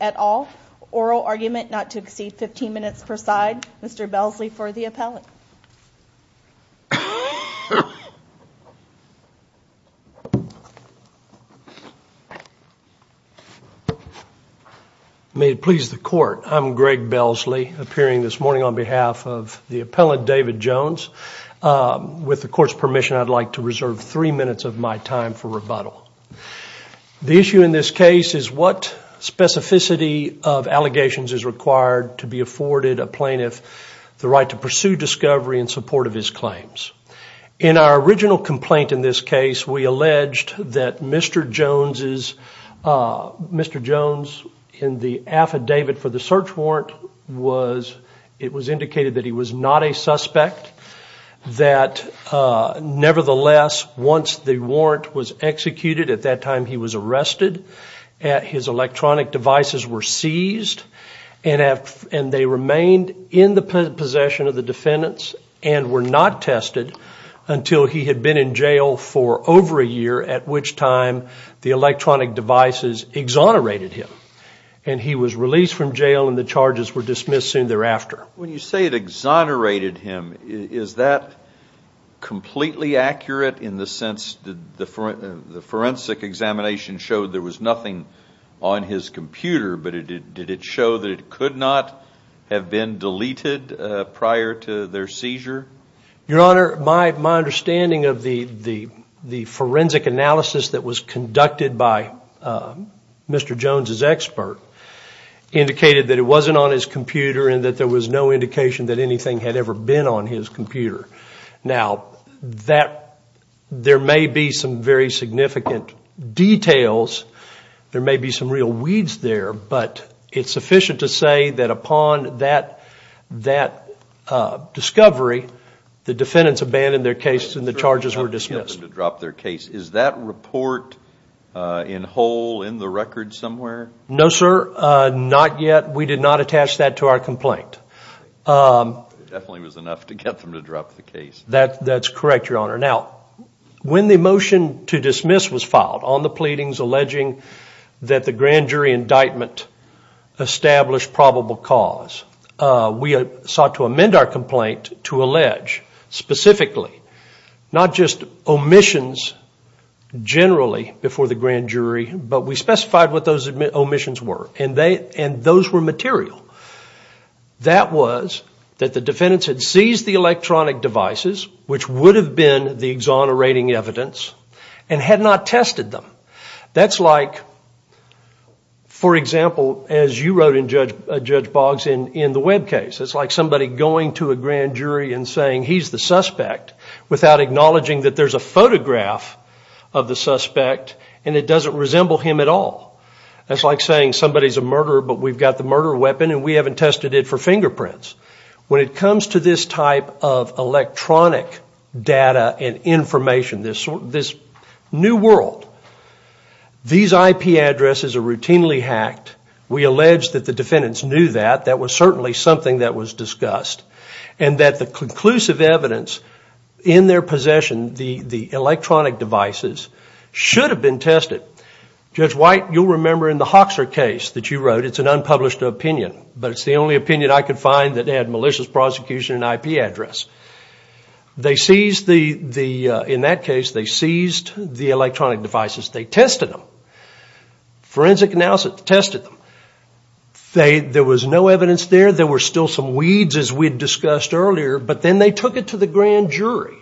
at all. Oral argument not to exceed 15 minutes per side. Mr. Belsley for the appellate. May it please the court. I'm Greg Belsley appearing this morning on behalf of the appellate David Jones. With the court's permission I'd like to reserve three minutes of my time for rebuttal. The issue in this case is what specificity of allegations is required to be afforded a plaintiff the right to pursue discovery in support of his claims. In our original complaint in this case we alleged that Mr. Jones is Mr. Jones in the affidavit for the search warrant was it was indicated that he was not a suspect. That nevertheless once the warrant was executed at that time he was arrested at his electronic devices were seized. And they remained in the possession of the defendants and were not tested until he had been in jail for over a year at which time the electronic devices exonerated him. And he was released from jail and the charges were dismissed soon thereafter. When you say it exonerated him is that completely accurate in the sense that the forensic examination showed there was nothing on his computer but it did it show that it could not have been deleted prior to their seizure. Your Honor, my understanding of the forensic analysis that was conducted by Mr. Jones' expert indicated that it wasn't on his computer and that there was no indication that anything had ever been on his computer. Now there may be some very significant details, there may be some real weeds there but it's sufficient to say that upon that discovery the defendants abandoned their cases and the charges were dismissed. Is that report in whole in the record somewhere? No sir, not yet. We did not attach that to our complaint. It definitely was enough to get them to drop the case. That's correct, Your Honor. Now when the motion to dismiss was filed on the pleadings alleging that the grand jury indictment established probable cause, we sought to amend our complaint to allege specifically not just omissions generally before the grand jury but we specified what those omissions were and those were material. That was that the defendants had seized the electronic devices which would have been the exonerating evidence and had not tested them. That's like, for example, as you wrote in Judge Boggs in the Webb case, it's like somebody going to a grand jury and saying he's the suspect without acknowledging that there's a photograph of the suspect and it doesn't resemble him at all. That's like saying somebody's a murderer but we've got the murder weapon and we haven't tested it for fingerprints. When it comes to this type of electronic data and information, this new world, these IP addresses are routinely hacked. We allege that the defendants knew that. That was certainly something that was discussed and that the conclusive evidence in their possession, the electronic devices, should have been tested. Judge White, you'll remember in the Hoxer case that you wrote, it's an unpublished opinion but it's the only opinion I could find that had malicious prosecution and IP address. In that case, they seized the electronic devices. They tested them. Forensic analysis tested them. There was no evidence there. There were still some weeds as we discussed earlier but then they took it to the grand jury.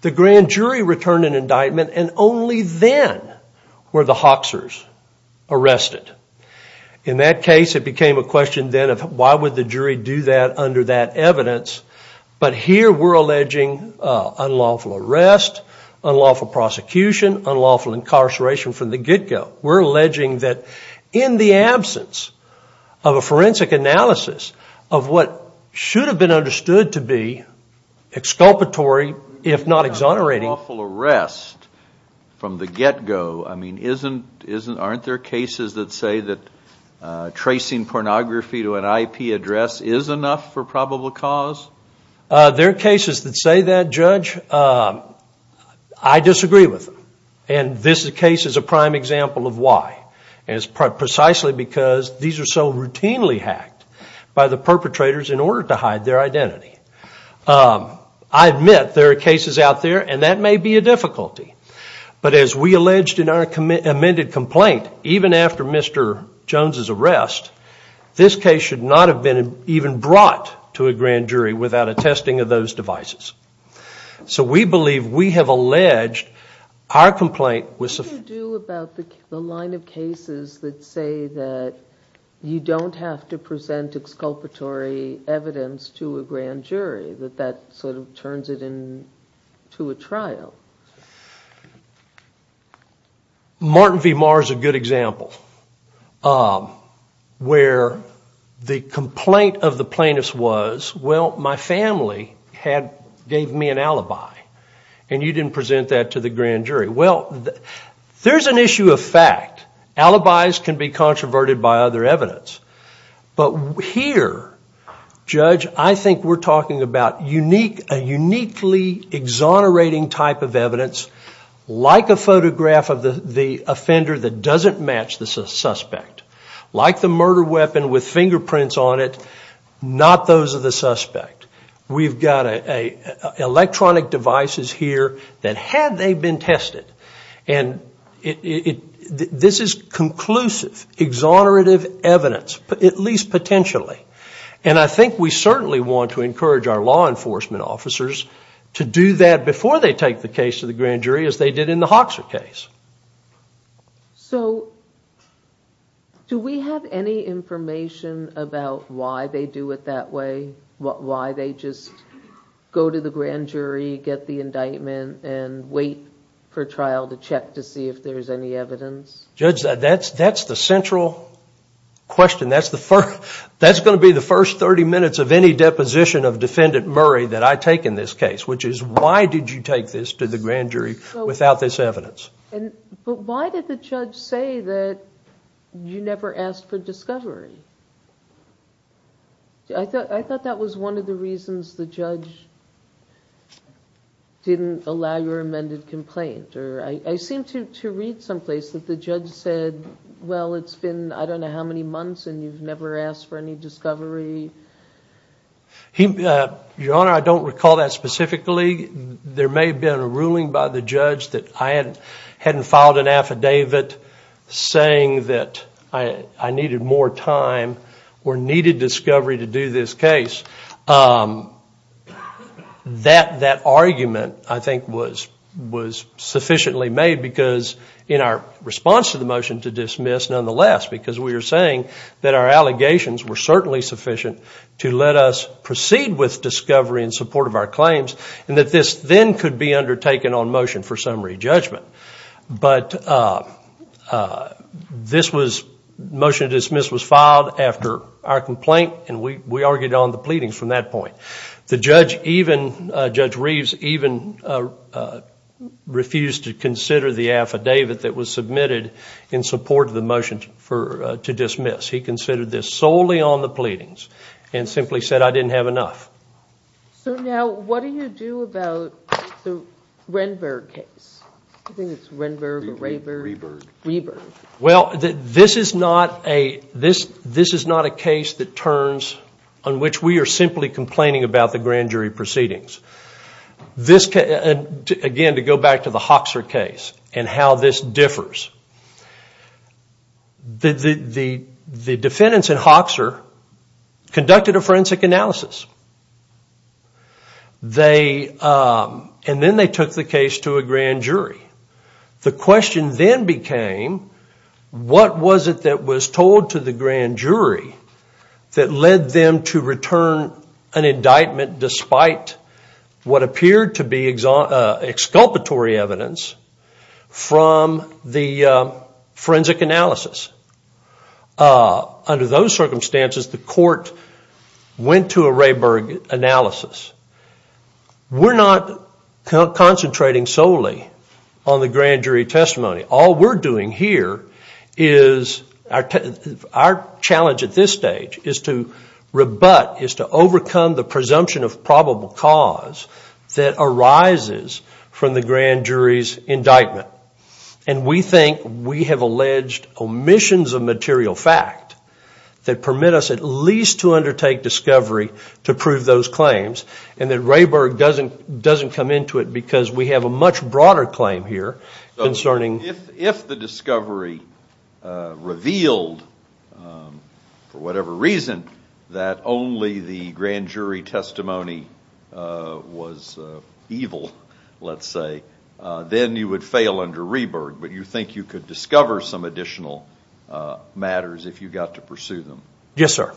The grand jury returned an indictment and only then were the Hoxers arrested. In that case, it became a question then of why would the jury do that under that evidence but here we're alleging unlawful arrest, unlawful prosecution, unlawful incarceration from the get-go. We're alleging that in the absence of a forensic analysis of what should have been understood to be exculpatory if not exonerating. Unlawful arrest from the get-go. Aren't there cases that say that tracing pornography to an IP address is enough for probable cause? There are cases that say that, Judge. I disagree with them. This case is a prime example of why. It's precisely because these are so routinely hacked by the perpetrators in order to hide their identity. I admit there are cases out there and that may be a difficulty but as we alleged in our amended complaint, even after Mr. Jones' arrest, this case should not have been even brought to a grand jury without a testing of those devices. So we believe we have alleged our complaint was sufficient. What do you do about the line of cases that say that you don't have to present exculpatory evidence to a grand jury? That that sort of turns it into a trial? Martin V. Marr is a good example. Where the complaint of the plaintiff was, well, my family gave me an alibi and you didn't present that to the grand jury. Well, there's an issue of fact. Alibis can be controverted by other evidence. But here, Judge, I think we're talking about a uniquely exonerating type of evidence, like a photograph of the offender that doesn't match the suspect. Like the murder weapon with fingerprints on it, not those of the suspect. We've got electronic devices here that had they been tested, and this is conclusive, exonerative evidence, at least potentially. And I think we certainly want to encourage our law enforcement officers to do that before they take the case to the grand jury, as they did in the Hoxha case. So do we have any information about why they do it that way? Why they just go to the grand jury, get the indictment, and wait for trial to check to see if there's any evidence? Judge, that's the central question. That's going to be the first 30 minutes of any deposition of Defendant Murray that I take in this case, which is why did you take this to the grand jury without this evidence? But why did the judge say that you never asked for discovery? I thought that was one of the reasons the judge didn't allow your amended complaint. I seem to read someplace that the judge said, well, it's been I don't know how many months, and you've never asked for any discovery. Your Honor, I don't recall that specifically. There may have been a ruling by the judge that I hadn't filed an affidavit saying that I needed more time or needed discovery to do this case. That argument, I think, was sufficiently made because in our response to the motion to dismiss, nonetheless, because we were saying that our allegations were certainly sufficient to let us proceed with discovery in support of our claims, and that this then could be undertaken on motion for summary judgment. But this motion to dismiss was filed after our complaint, and we argued on the pleadings from that point. The judge, Judge Reeves, even refused to consider the affidavit that was submitted in support of the motion to dismiss. He considered this solely on the pleadings and simply said I didn't have enough. So now what do you do about the Renberg case? I think it's Renberg or Rayberg. Reberg. Reberg. Well, this is not a case that turns on which we are simply complaining about the grand jury proceedings. Again, to go back to the Hoxer case and how this differs, the defendants at Hoxer conducted a forensic analysis, and then they took the case to a grand jury. The question then became what was it that was told to the grand jury that led them to return an indictment despite what appeared to be exculpatory evidence from the forensic analysis? Under those circumstances, the court went to a Rayberg analysis. We're not concentrating solely on the grand jury testimony. All we're doing here is our challenge at this stage is to rebut, is to overcome the presumption of probable cause that arises from the grand jury's indictment. And we think we have alleged omissions of material fact that permit us at least to undertake discovery to prove those claims, and that Rayberg doesn't come into it because we have a much broader claim here concerning. If the discovery revealed, for whatever reason, that only the grand jury testimony was evil, let's say, then you would fail under Reberg. But you think you could discover some additional matters if you got to pursue them? Yes, sir.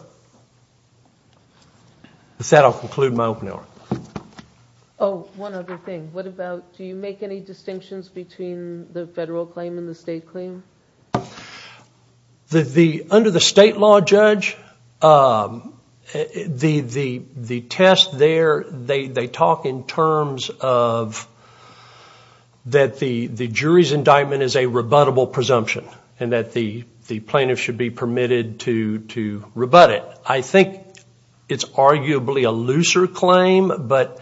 With that, I'll conclude my open hour. Oh, one other thing. What about, do you make any distinctions between the federal claim and the state claim? Under the state law, Judge, the test there, they talk in terms of that the jury's indictment is a rebuttable presumption and that the plaintiff should be permitted to rebut it. I think it's arguably a looser claim, but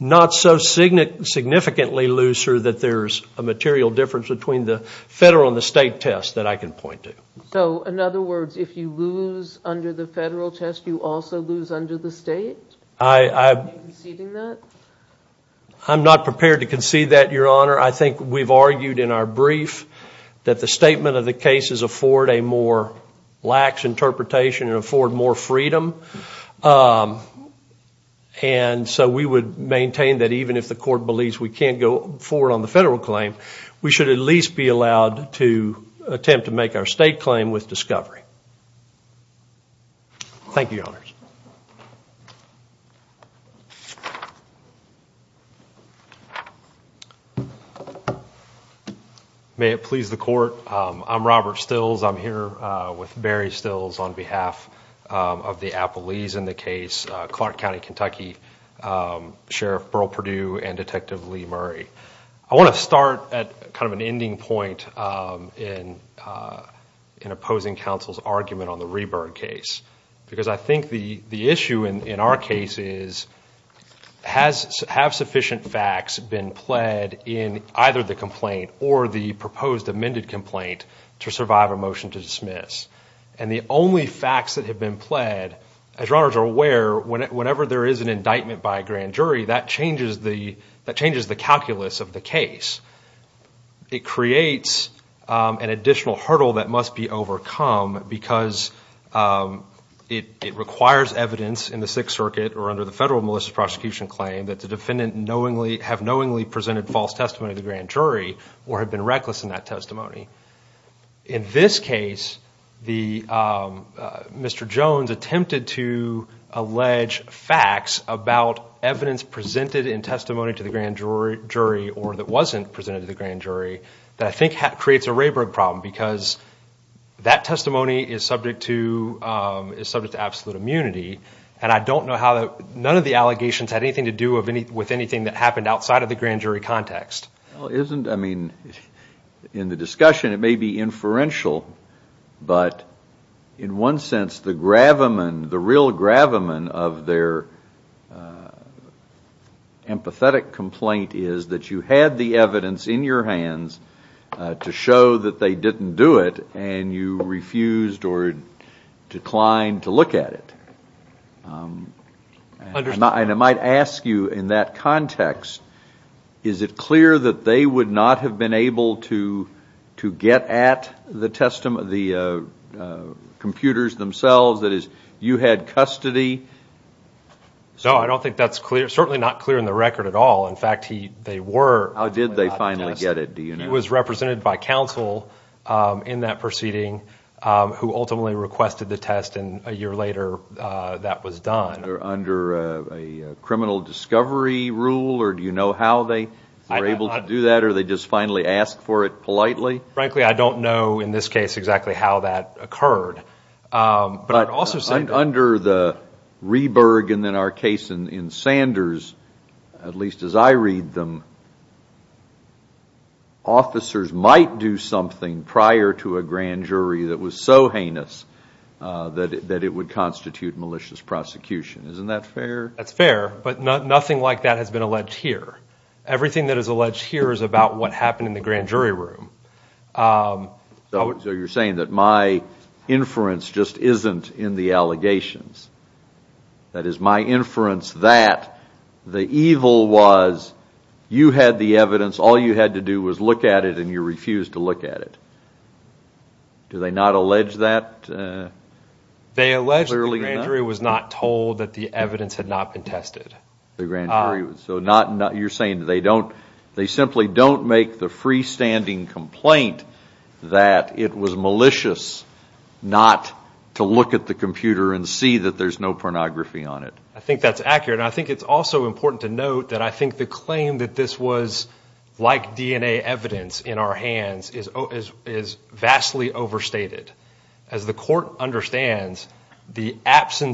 not so significantly looser that there's a material difference between the federal and the state test that I can point to. So, in other words, if you lose under the federal test, you also lose under the state? Are you conceding that? I'm not prepared to concede that, Your Honor. I think we've argued in our brief that the statement of the case is afford a more lax interpretation and afford more freedom. And so we would maintain that even if the court believes we can't go forward on the federal claim, we should at least be allowed to attempt to make our state claim with discovery. Thank you, Your Honors. May it please the court. I'm Robert Stills. I'm here with Barry Stills on behalf of the Applelees in the case, Clark County, Kentucky, Sheriff Burl Perdue and Detective Lee Murray. I want to start at kind of an ending point in opposing counsel's argument on the Reburg case. Because I think the issue in our case is, have sufficient facts been pled in either the complaint or the proposed amended complaint to survive a motion to dismiss? And the only facts that have been pled, as Your Honors are aware, whenever there is an indictment by a grand jury, that changes the calculus of the case. It creates an additional hurdle that must be overcome because it requires evidence in the Sixth Circuit or under the federal malicious prosecution claim that the defendant have knowingly presented false testimony to the grand jury or have been reckless in that testimony. In this case, Mr. Jones attempted to allege facts about evidence presented in testimony to the grand jury or that wasn't presented to the grand jury that I think creates a Reburg problem because that testimony is subject to absolute immunity. And I don't know how none of the allegations had anything to do with anything that happened outside of the grand jury context. Well, isn't, I mean, in the discussion it may be inferential, but in one sense the gravamen, the real gravamen of their empathetic complaint is that you had the evidence in your hands to show that they didn't do it and you refused or declined to look at it. And I might ask you in that context, is it clear that they would not have been able to get at the computers themselves? That is, you had custody? No, I don't think that's clear, certainly not clear in the record at all. In fact, they were. How did they finally get it, do you know? He was represented by counsel in that proceeding who ultimately requested the test and a year later that was done. Under a criminal discovery rule or do you know how they were able to do that or they just finally asked for it politely? Frankly, I don't know in this case exactly how that occurred. But under the Reburg and then our case in Sanders, at least as I read them, officers might do something prior to a grand jury that was so heinous that it would constitute malicious prosecution. Isn't that fair? That's fair, but nothing like that has been alleged here. Everything that is alleged here is about what happened in the grand jury room. So you're saying that my inference just isn't in the allegations. That is, my inference that the evil was you had the evidence, all you had to do was look at it and you refused to look at it. Do they not allege that? They allege the grand jury was not told that the evidence had not been tested. So you're saying they simply don't make the freestanding complaint that it was malicious not to look at the computer and see that there's no pornography on it. I think that's accurate. I think it's also important to note that I think the claim that this was like DNA evidence in our hands is vastly overstated. As the court understands, after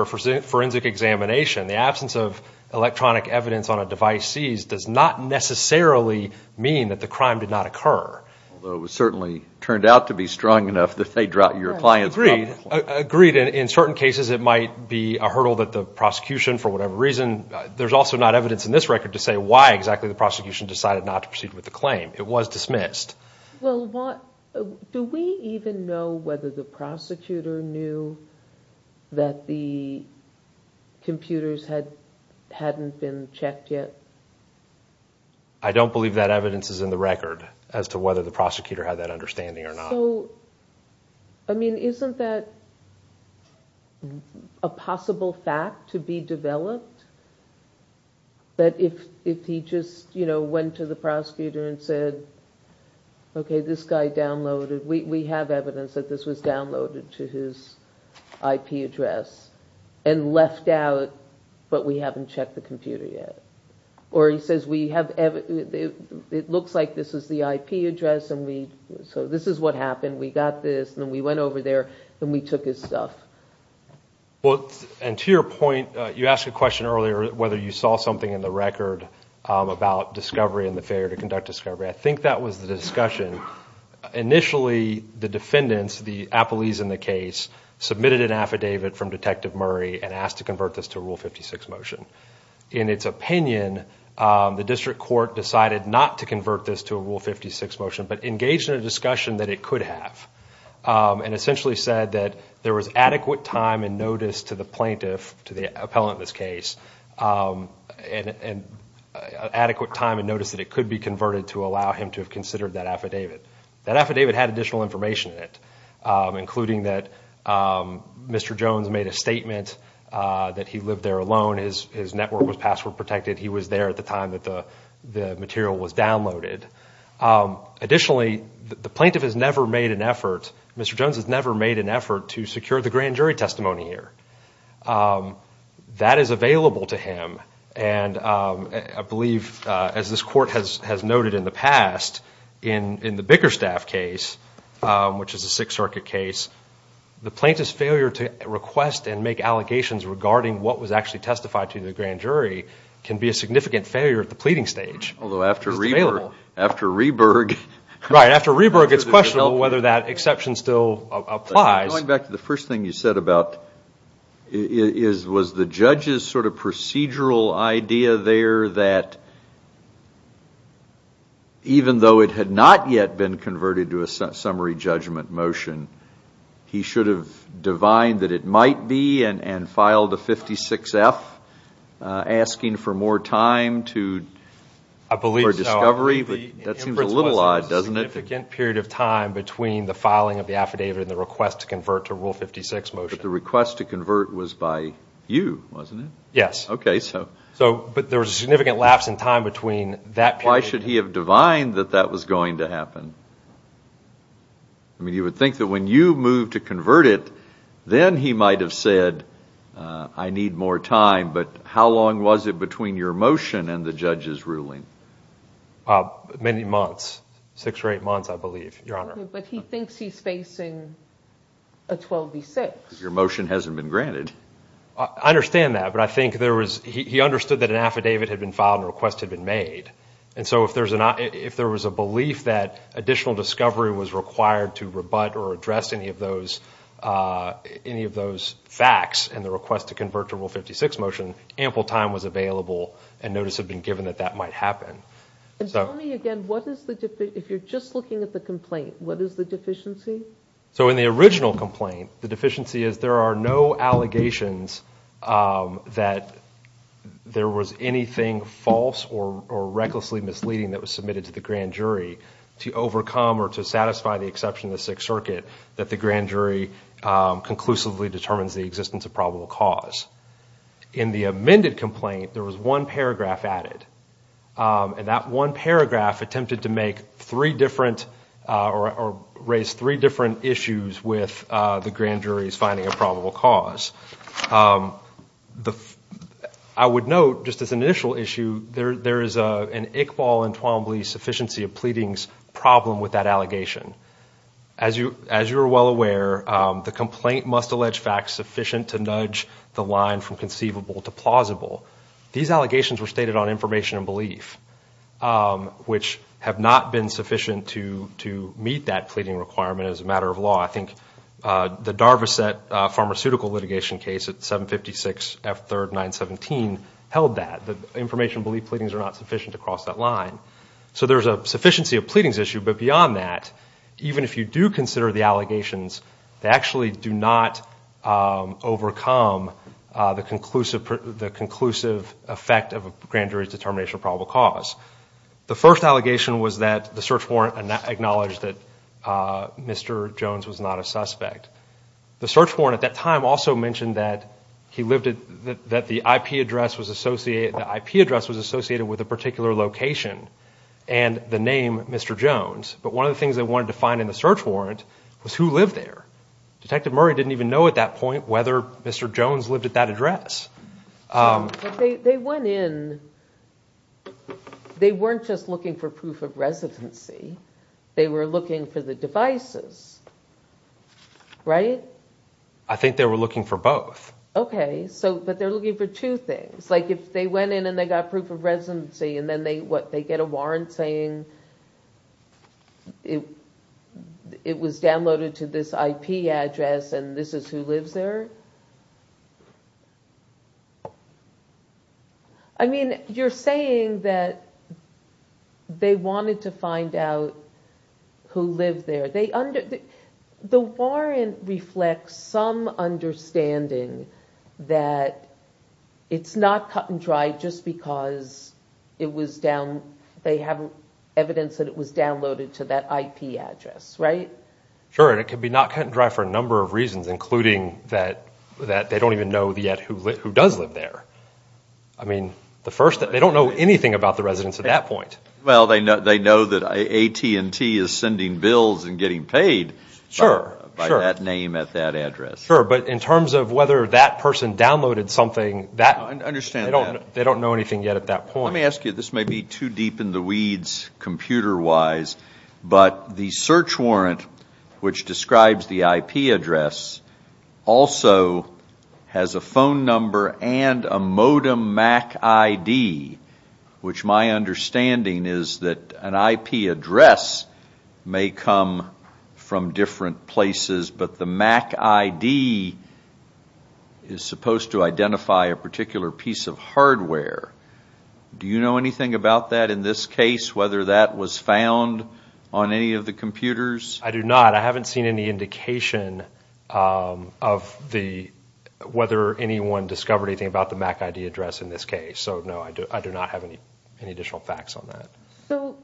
a forensic examination, the absence of electronic evidence on a device seized does not necessarily mean that the crime did not occur. Although it certainly turned out to be strong enough that they dropped your client's problem. Agreed. In certain cases it might be a hurdle that the prosecution, for whatever reason, there's also not evidence in this record to say why exactly the prosecution decided not to proceed with the claim. It was dismissed. Do we even know whether the prosecutor knew that the computers hadn't been checked yet? I don't believe that evidence is in the record as to whether the prosecutor had that understanding or not. So, I mean, isn't that a possible fact to be developed? That if he just, you know, went to the prosecutor and said, okay, this guy downloaded, we have evidence that this was downloaded to his IP address and left out, but we haven't checked the computer yet. Or he says, it looks like this is the IP address, so this is what happened. We got this and then we went over there and we took his stuff. Well, and to your point, you asked a question earlier whether you saw something in the record about discovery and the failure to conduct discovery. I think that was the discussion. Initially, the defendants, the appellees in the case, submitted an affidavit from Detective Murray and asked to convert this to a Rule 56 motion. In its opinion, the district court decided not to convert this to a Rule 56 motion but engaged in a discussion that it could have and essentially said that there was adequate time and notice to the plaintiff, to the appellant in this case, adequate time and notice that it could be converted to allow him to have considered that affidavit. That affidavit had additional information in it, including that Mr. Jones made a statement that he lived there alone. His network was password protected. He was there at the time that the material was downloaded. Additionally, the plaintiff has never made an effort, Mr. Jones has never made an effort to secure the grand jury testimony here. That is available to him. I believe, as this court has noted in the past, in the Bickerstaff case, which is a Sixth Circuit case, the plaintiff's failure to request and make allegations regarding what was actually testified to the grand jury can be a significant failure at the pleading stage. Although after Reberg, it's questionable whether that exception still applies. Going back to the first thing you said about, was the judge's sort of procedural idea there that, even though it had not yet been converted to a summary judgment motion, he should have divined that it might be and filed a 56F, asking for more time for discovery? I believe so. That seems a little odd, doesn't it? There was a significant period of time between the filing of the affidavit and the request to convert to Rule 56 motion. But the request to convert was by you, wasn't it? Yes. Okay. But there was a significant lapse in time between that period. Why should he have divined that that was going to happen? I mean, you would think that when you moved to convert it, then he might have said, I need more time. But how long was it between your motion and the judge's ruling? Many months. Six or eight months, I believe, Your Honor. Okay. But he thinks he's facing a 12B6. Because your motion hasn't been granted. I understand that. But I think there was, he understood that an affidavit had been filed and a request had been made. And so if there was a belief that additional discovery was required to rebut or address any of those facts and the request to convert to Rule 56 motion, ample time was available and notice had been given that that might happen. And tell me again, what is the, if you're just looking at the complaint, what is the deficiency? So in the original complaint, the deficiency is there are no allegations that there was anything false or recklessly misleading that was submitted to the grand jury to overcome or to satisfy the exception of the Sixth Circuit that the grand jury conclusively determines the existence of probable cause. In the amended complaint, there was one paragraph added. And that one paragraph attempted to make three different or raise three different issues with the grand jury's finding of probable cause. I would note, just as an initial issue, there is an Iqbal and Twombly sufficiency of pleadings problem with that allegation. As you are well aware, the complaint must allege facts sufficient to nudge the line from conceivable to plausible. These allegations were stated on information and belief, which have not been sufficient to meet that pleading requirement as a matter of law. I think the Darvissette pharmaceutical litigation case at 756 F3rd 917 held that. The information and belief pleadings are not sufficient to cross that line. So there's a sufficiency of pleadings issue. But beyond that, even if you do consider the allegations, they actually do not overcome the conclusive effect of a grand jury's determination of probable cause. The first allegation was that the search warrant acknowledged that Mr. Jones was not a suspect. The search warrant at that time also mentioned that the IP address was associated with a particular location and the name Mr. Jones. But one of the things they wanted to find in the search warrant was who lived there. Detective Murray didn't even know at that point whether Mr. Jones lived at that address. They went in. They weren't just looking for proof of residency. They were looking for the devices. Right. I think they were looking for both. OK, so but they're looking for two things. It's like if they went in and they got proof of residency and then they get a warrant saying it was downloaded to this IP address and this is who lives there. I mean, you're saying that they wanted to find out who lived there. The warrant reflects some understanding that it's not cut and dry just because they have evidence that it was downloaded to that IP address, right? Sure, and it could be not cut and dry for a number of reasons, including that they don't even know yet who does live there. I mean, they don't know anything about the residents at that point. Well, they know that AT&T is sending bills and getting paid by that name at that address. Sure, but in terms of whether that person downloaded something, they don't know anything yet at that point. Let me ask you, this may be too deep in the weeds computer-wise, but the search warrant, which describes the IP address, also has a phone number and a modem MAC ID, which my understanding is that an IP address may come from different places, but the MAC ID is supposed to identify a particular piece of hardware. Do you know anything about that in this case, whether that was found on any of the computers? I do not. I haven't seen any indication of whether anyone discovered anything about the MAC ID address in this case. So, no, I do not have any additional facts on that. So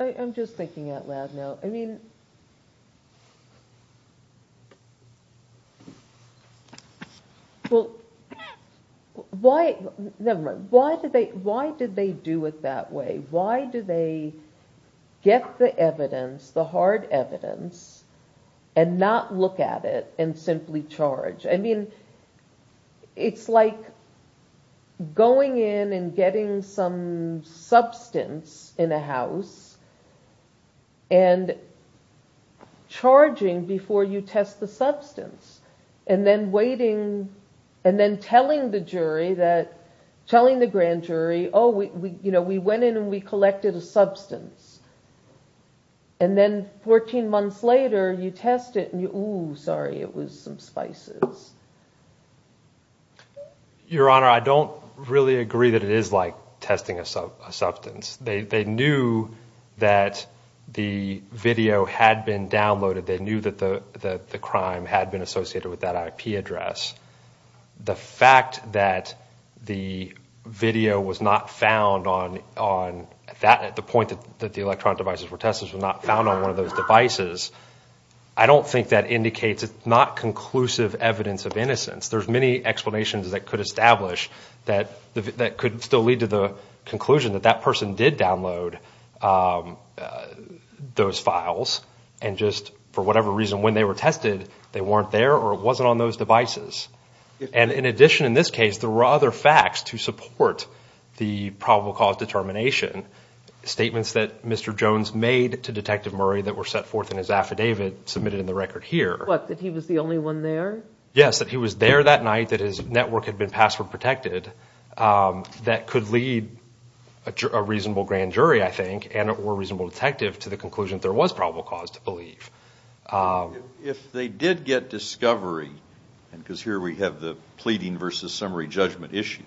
I'm just thinking out loud now. I mean, well, never mind. Why did they do it that way? Why did they get the evidence, the hard evidence, and not look at it and simply charge? I mean, it's like going in and getting some substance in a house and charging before you test the substance and then telling the grand jury, oh, we went in and we collected a substance. And then 14 months later, you test it and, oh, sorry, it was some spices. Your Honor, I don't really agree that it is like testing a substance. They knew that the video had been downloaded. They knew that the crime had been associated with that IP address. The fact that the video was not found on, at the point that the electronic devices were tested, was not found on one of those devices, I don't think that indicates it's not conclusive evidence of innocence. There's many explanations that could establish that could still lead to the conclusion that that person did download those files and just, for whatever reason, when they were tested, they weren't there or it wasn't on those devices. And in addition, in this case, there were other facts to support the probable cause determination. Statements that Mr. Jones made to Detective Murray that were set forth in his affidavit submitted in the record here. What, that he was the only one there? Yes, that he was there that night, that his network had been password protected. That could lead a reasonable grand jury, I think, and or reasonable detective to the conclusion that there was probable cause to believe. If they did get discovery, and because here we have the pleading versus summary judgment issue,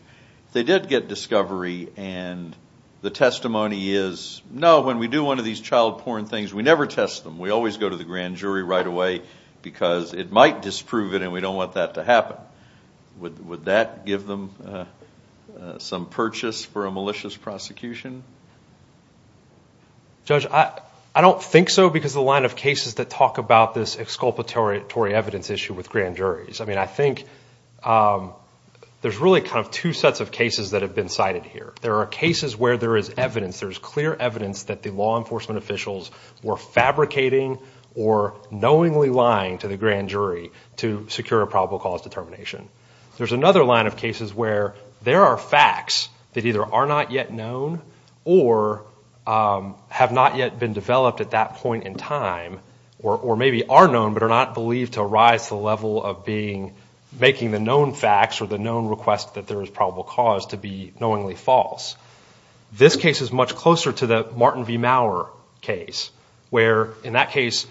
if they did get discovery and the testimony is, no, when we do one of these child porn things, we never test them. We always go to the grand jury right away because it might disprove it and we don't want that to happen. Would that give them some purchase for a malicious prosecution? Judge, I don't think so because the line of cases that talk about this exculpatory evidence issue with grand juries. I mean, I think there's really kind of two sets of cases that have been cited here. There are cases where there is evidence, there's clear evidence that the law enforcement officials were fabricating or knowingly lying to the grand jury to secure a probable cause determination. There's another line of cases where there are facts that either are not yet known or have not yet been developed at that point in time or maybe are known but are not believed to arise to the level of making the known facts or the known request that there is probable cause to be knowingly false. This case is much closer to the Martin V. Mauer case where, in that case,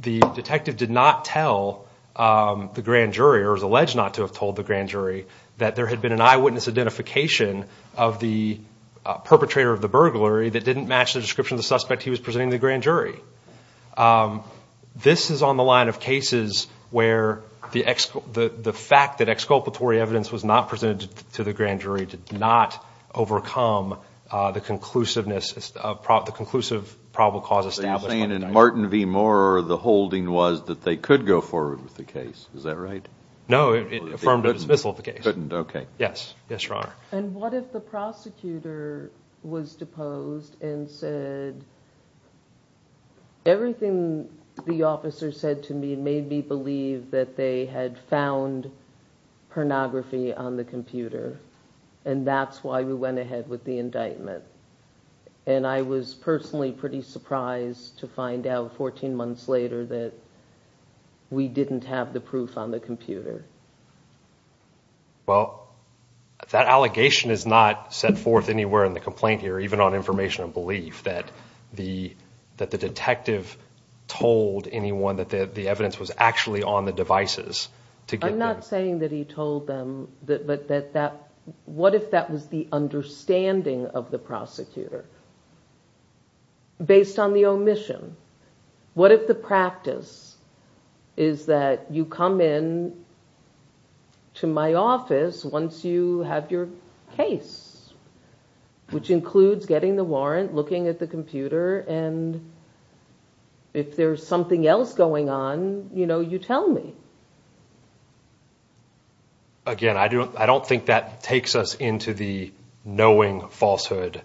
the detective did not tell the grand jury or was alleged not to have told the grand jury that there had been an eyewitness identification of the perpetrator of the burglary that didn't match the description of the suspect he was presenting to the grand jury. This is on the line of cases where the fact that exculpatory evidence was not presented to the grand jury did not overcome the conclusive probable cause establishment. So you're saying in Martin V. Mauer the holding was that they could go forward with the case, is that right? No, it affirmed the dismissal of the case. Couldn't, okay. Yes, Your Honor. And what if the prosecutor was deposed and said, Everything the officer said to me made me believe that they had found pornography on the computer and that's why we went ahead with the indictment. And I was personally pretty surprised to find out 14 months later that we didn't have the proof on the computer. Well, that allegation is not set forth anywhere in the complaint here, even on information of belief that the detective told anyone that the evidence was actually on the devices. I'm not saying that he told them, but what if that was the understanding of the prosecutor based on the omission? What if the practice is that you come in to my office once you have your case, which includes getting the warrant, looking at the computer, and if there's something else going on, you know, you tell me. Again, I don't think that takes us into the knowing falsehood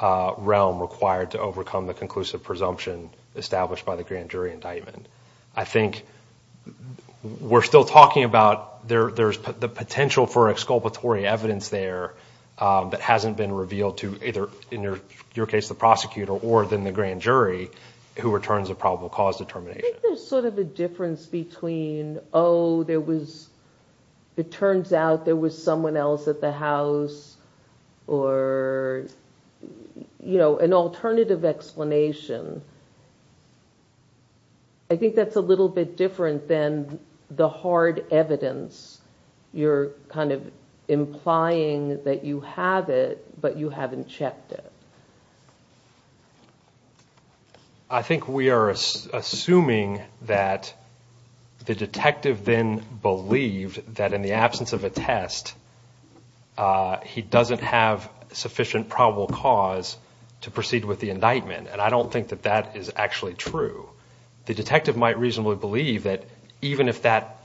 realm required to overcome the conclusive presumption established by the grand jury indictment. I think we're still talking about the potential for exculpatory evidence there that hasn't been revealed to either, in your case, the prosecutor or then the grand jury who returns a probable cause determination. I think there's sort of a difference between, oh, it turns out there was someone else at the house, or, you know, an alternative explanation. I think that's a little bit different than the hard evidence. You're kind of implying that you have it, but you haven't checked it. I think we are assuming that the detective then believed that in the absence of a test, he doesn't have sufficient probable cause to proceed with the indictment, and I don't think that that is actually true. The detective might reasonably believe that even if that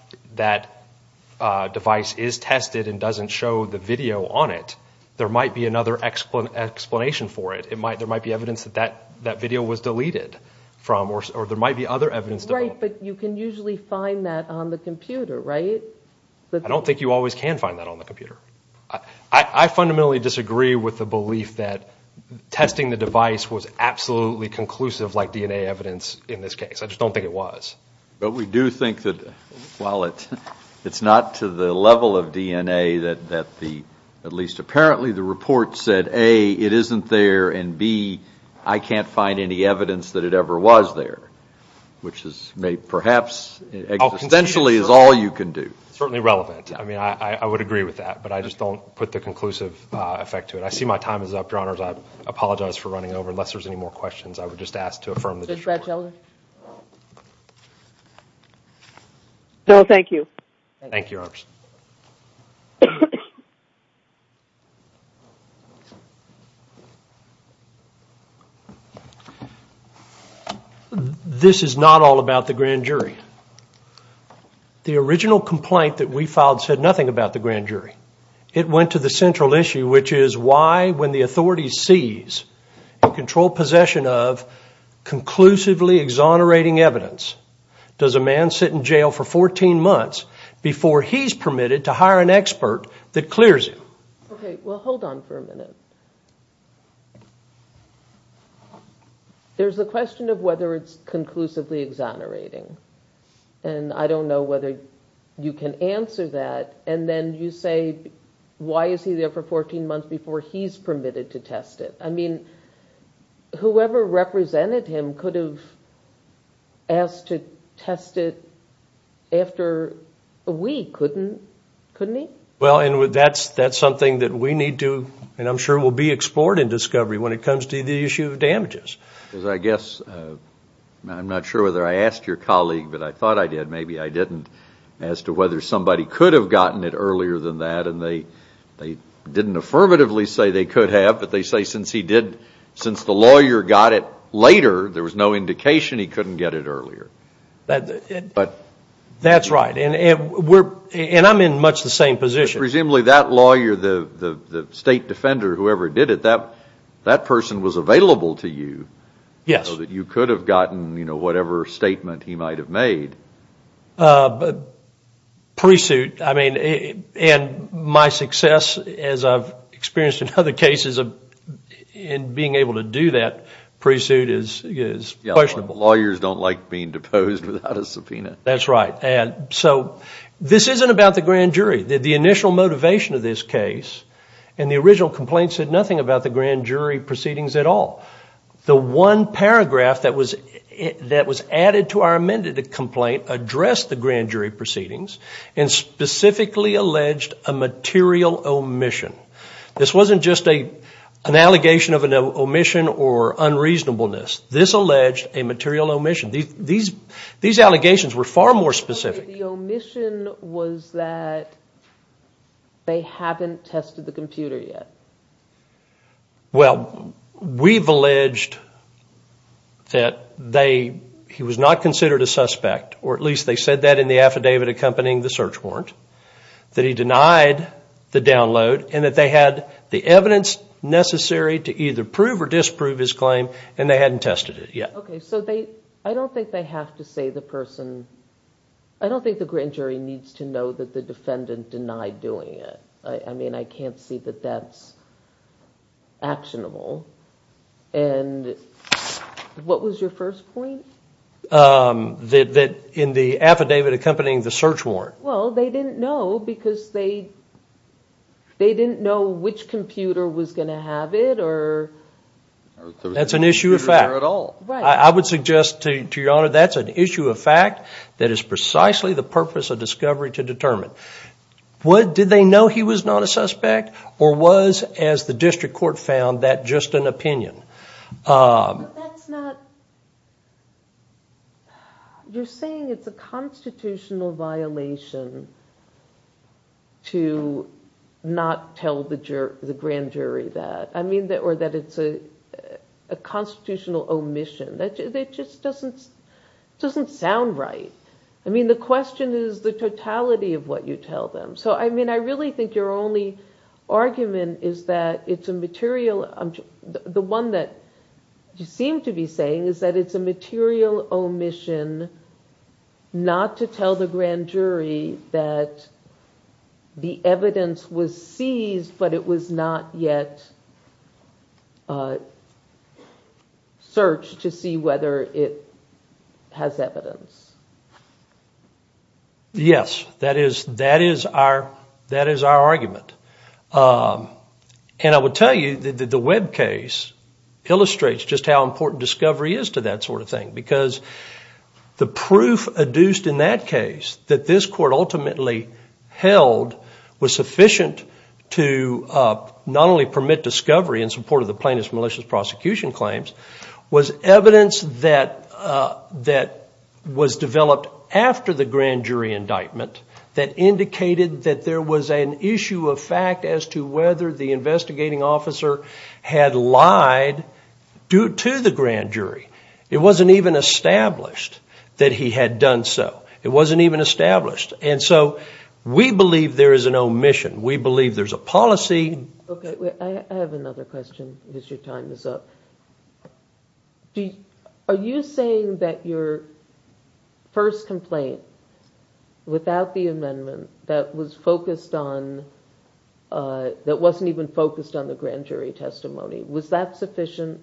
device is tested and doesn't show the video on it, there might be another explanation for it. There might be evidence that that video was deleted from, or there might be other evidence. Right, but you can usually find that on the computer, right? I don't think you always can find that on the computer. I fundamentally disagree with the belief that testing the device was absolutely conclusive like DNA evidence in this case. I just don't think it was. But we do think that while it's not to the level of DNA that at least apparently the report said, A, it isn't there, and B, I can't find any evidence that it ever was there, which perhaps existentially is all you can do. It's certainly relevant. I mean, I would agree with that, but I just don't put the conclusive effect to it. I see my time is up, Your Honors. I apologize for running over. Unless there's any more questions, I would just ask to affirm the disorder. No, thank you. Thank you, Your Honors. This is not all about the grand jury. The original complaint that we filed said nothing about the grand jury. It went to the central issue, which is why, when the authority sees in controlled possession of conclusively exonerating evidence, does a man sit in jail for 14 months before he's permitted to hire an expert that clears him? Okay, well, hold on for a minute. There's a question of whether it's conclusively exonerating, and I don't know whether you can answer that, and then you say, why is he there for 14 months before he's permitted to test it? I mean, whoever represented him could have asked to test it after a week, couldn't he? Well, that's something that we need to, and I'm sure will be explored in discovery when it comes to the issue of damages. I guess, I'm not sure whether I asked your colleague, but I thought I did. Maybe I didn't, as to whether somebody could have gotten it earlier than that, and they didn't affirmatively say they could have, but they say since the lawyer got it later, there was no indication he couldn't get it earlier. That's right, and I'm in much the same position. Presumably that lawyer, the state defender, whoever did it, that person was available to you. Yes. So that you could have gotten whatever statement he might have made. Pursuit, I mean, and my success as I've experienced in other cases in being able to do that, pursuit is questionable. Lawyers don't like being deposed without a subpoena. That's right, and so this isn't about the grand jury. The initial motivation of this case and the original complaint said nothing about the grand jury proceedings at all. The one paragraph that was added to our amended complaint addressed the grand jury proceedings and specifically alleged a material omission. This wasn't just an allegation of an omission or unreasonableness. This alleged a material omission. These allegations were far more specific. The omission was that they haven't tested the computer yet. Well, we've alleged that he was not considered a suspect, or at least they said that in the affidavit accompanying the search warrant, that he denied the download and that they had the evidence necessary to either prove or disprove his claim and they hadn't tested it yet. Okay, so I don't think they have to say the person, I don't think the grand jury needs to know that the defendant denied doing it. I mean, I can't see that that's actionable. And what was your first point? That in the affidavit accompanying the search warrant. Well, they didn't know because they didn't know which computer was going to have it. That's an issue of fact. I would suggest to Your Honor that's an issue of fact that is precisely the purpose of discovery to determine. Did they know he was not a suspect? Or was, as the district court found, that just an opinion? But that's not, you're saying it's a constitutional violation to not tell the grand jury that, or that it's a constitutional omission. That just doesn't sound right. I mean, the question is the totality of what you tell them. So, I mean, I really think your only argument is that it's a material, the one that you seem to be saying is that it's a material omission not to tell the grand jury that the evidence was seized but it was not yet searched to see whether it has evidence. Yes, that is our argument. And I will tell you that the Webb case illustrates just how important discovery is to that sort of thing because the proof adduced in that case that this court ultimately held was sufficient to not only permit discovery in support of the plaintiff's malicious prosecution claims, was evidence that was developed after the grand jury indictment that indicated that there was an issue of fact as to whether the investigating officer had lied to the grand jury. It wasn't even established that he had done so. It wasn't even established. And so we believe there is an omission. We believe there's a policy. I have another question because your time is up. Are you saying that your first complaint without the amendment that was focused on, that wasn't even focused on the grand jury testimony, was that sufficient?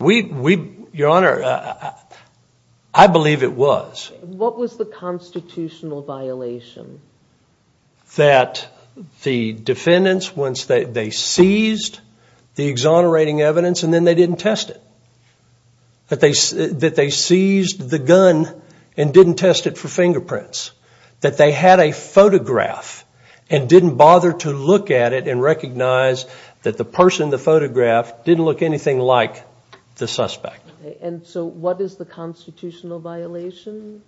Your Honor, I believe it was. What was the constitutional violation? That the defendants, once they seized the exonerating evidence and then they didn't test it. That they seized the gun and didn't test it for fingerprints. That they had a photograph and didn't bother to look at it and recognize that the person in the photograph didn't look anything like the suspect. And so what is the constitutional violation?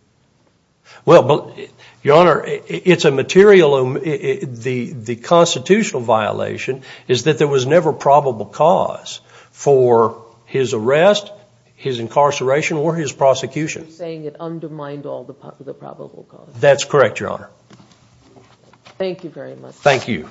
Well, Your Honor, it's a material. The constitutional violation is that there was never probable cause for his arrest, his incarceration, or his prosecution. So you're saying it undermined all the probable cause. That's correct, Your Honor. Thank you very much. Thank you.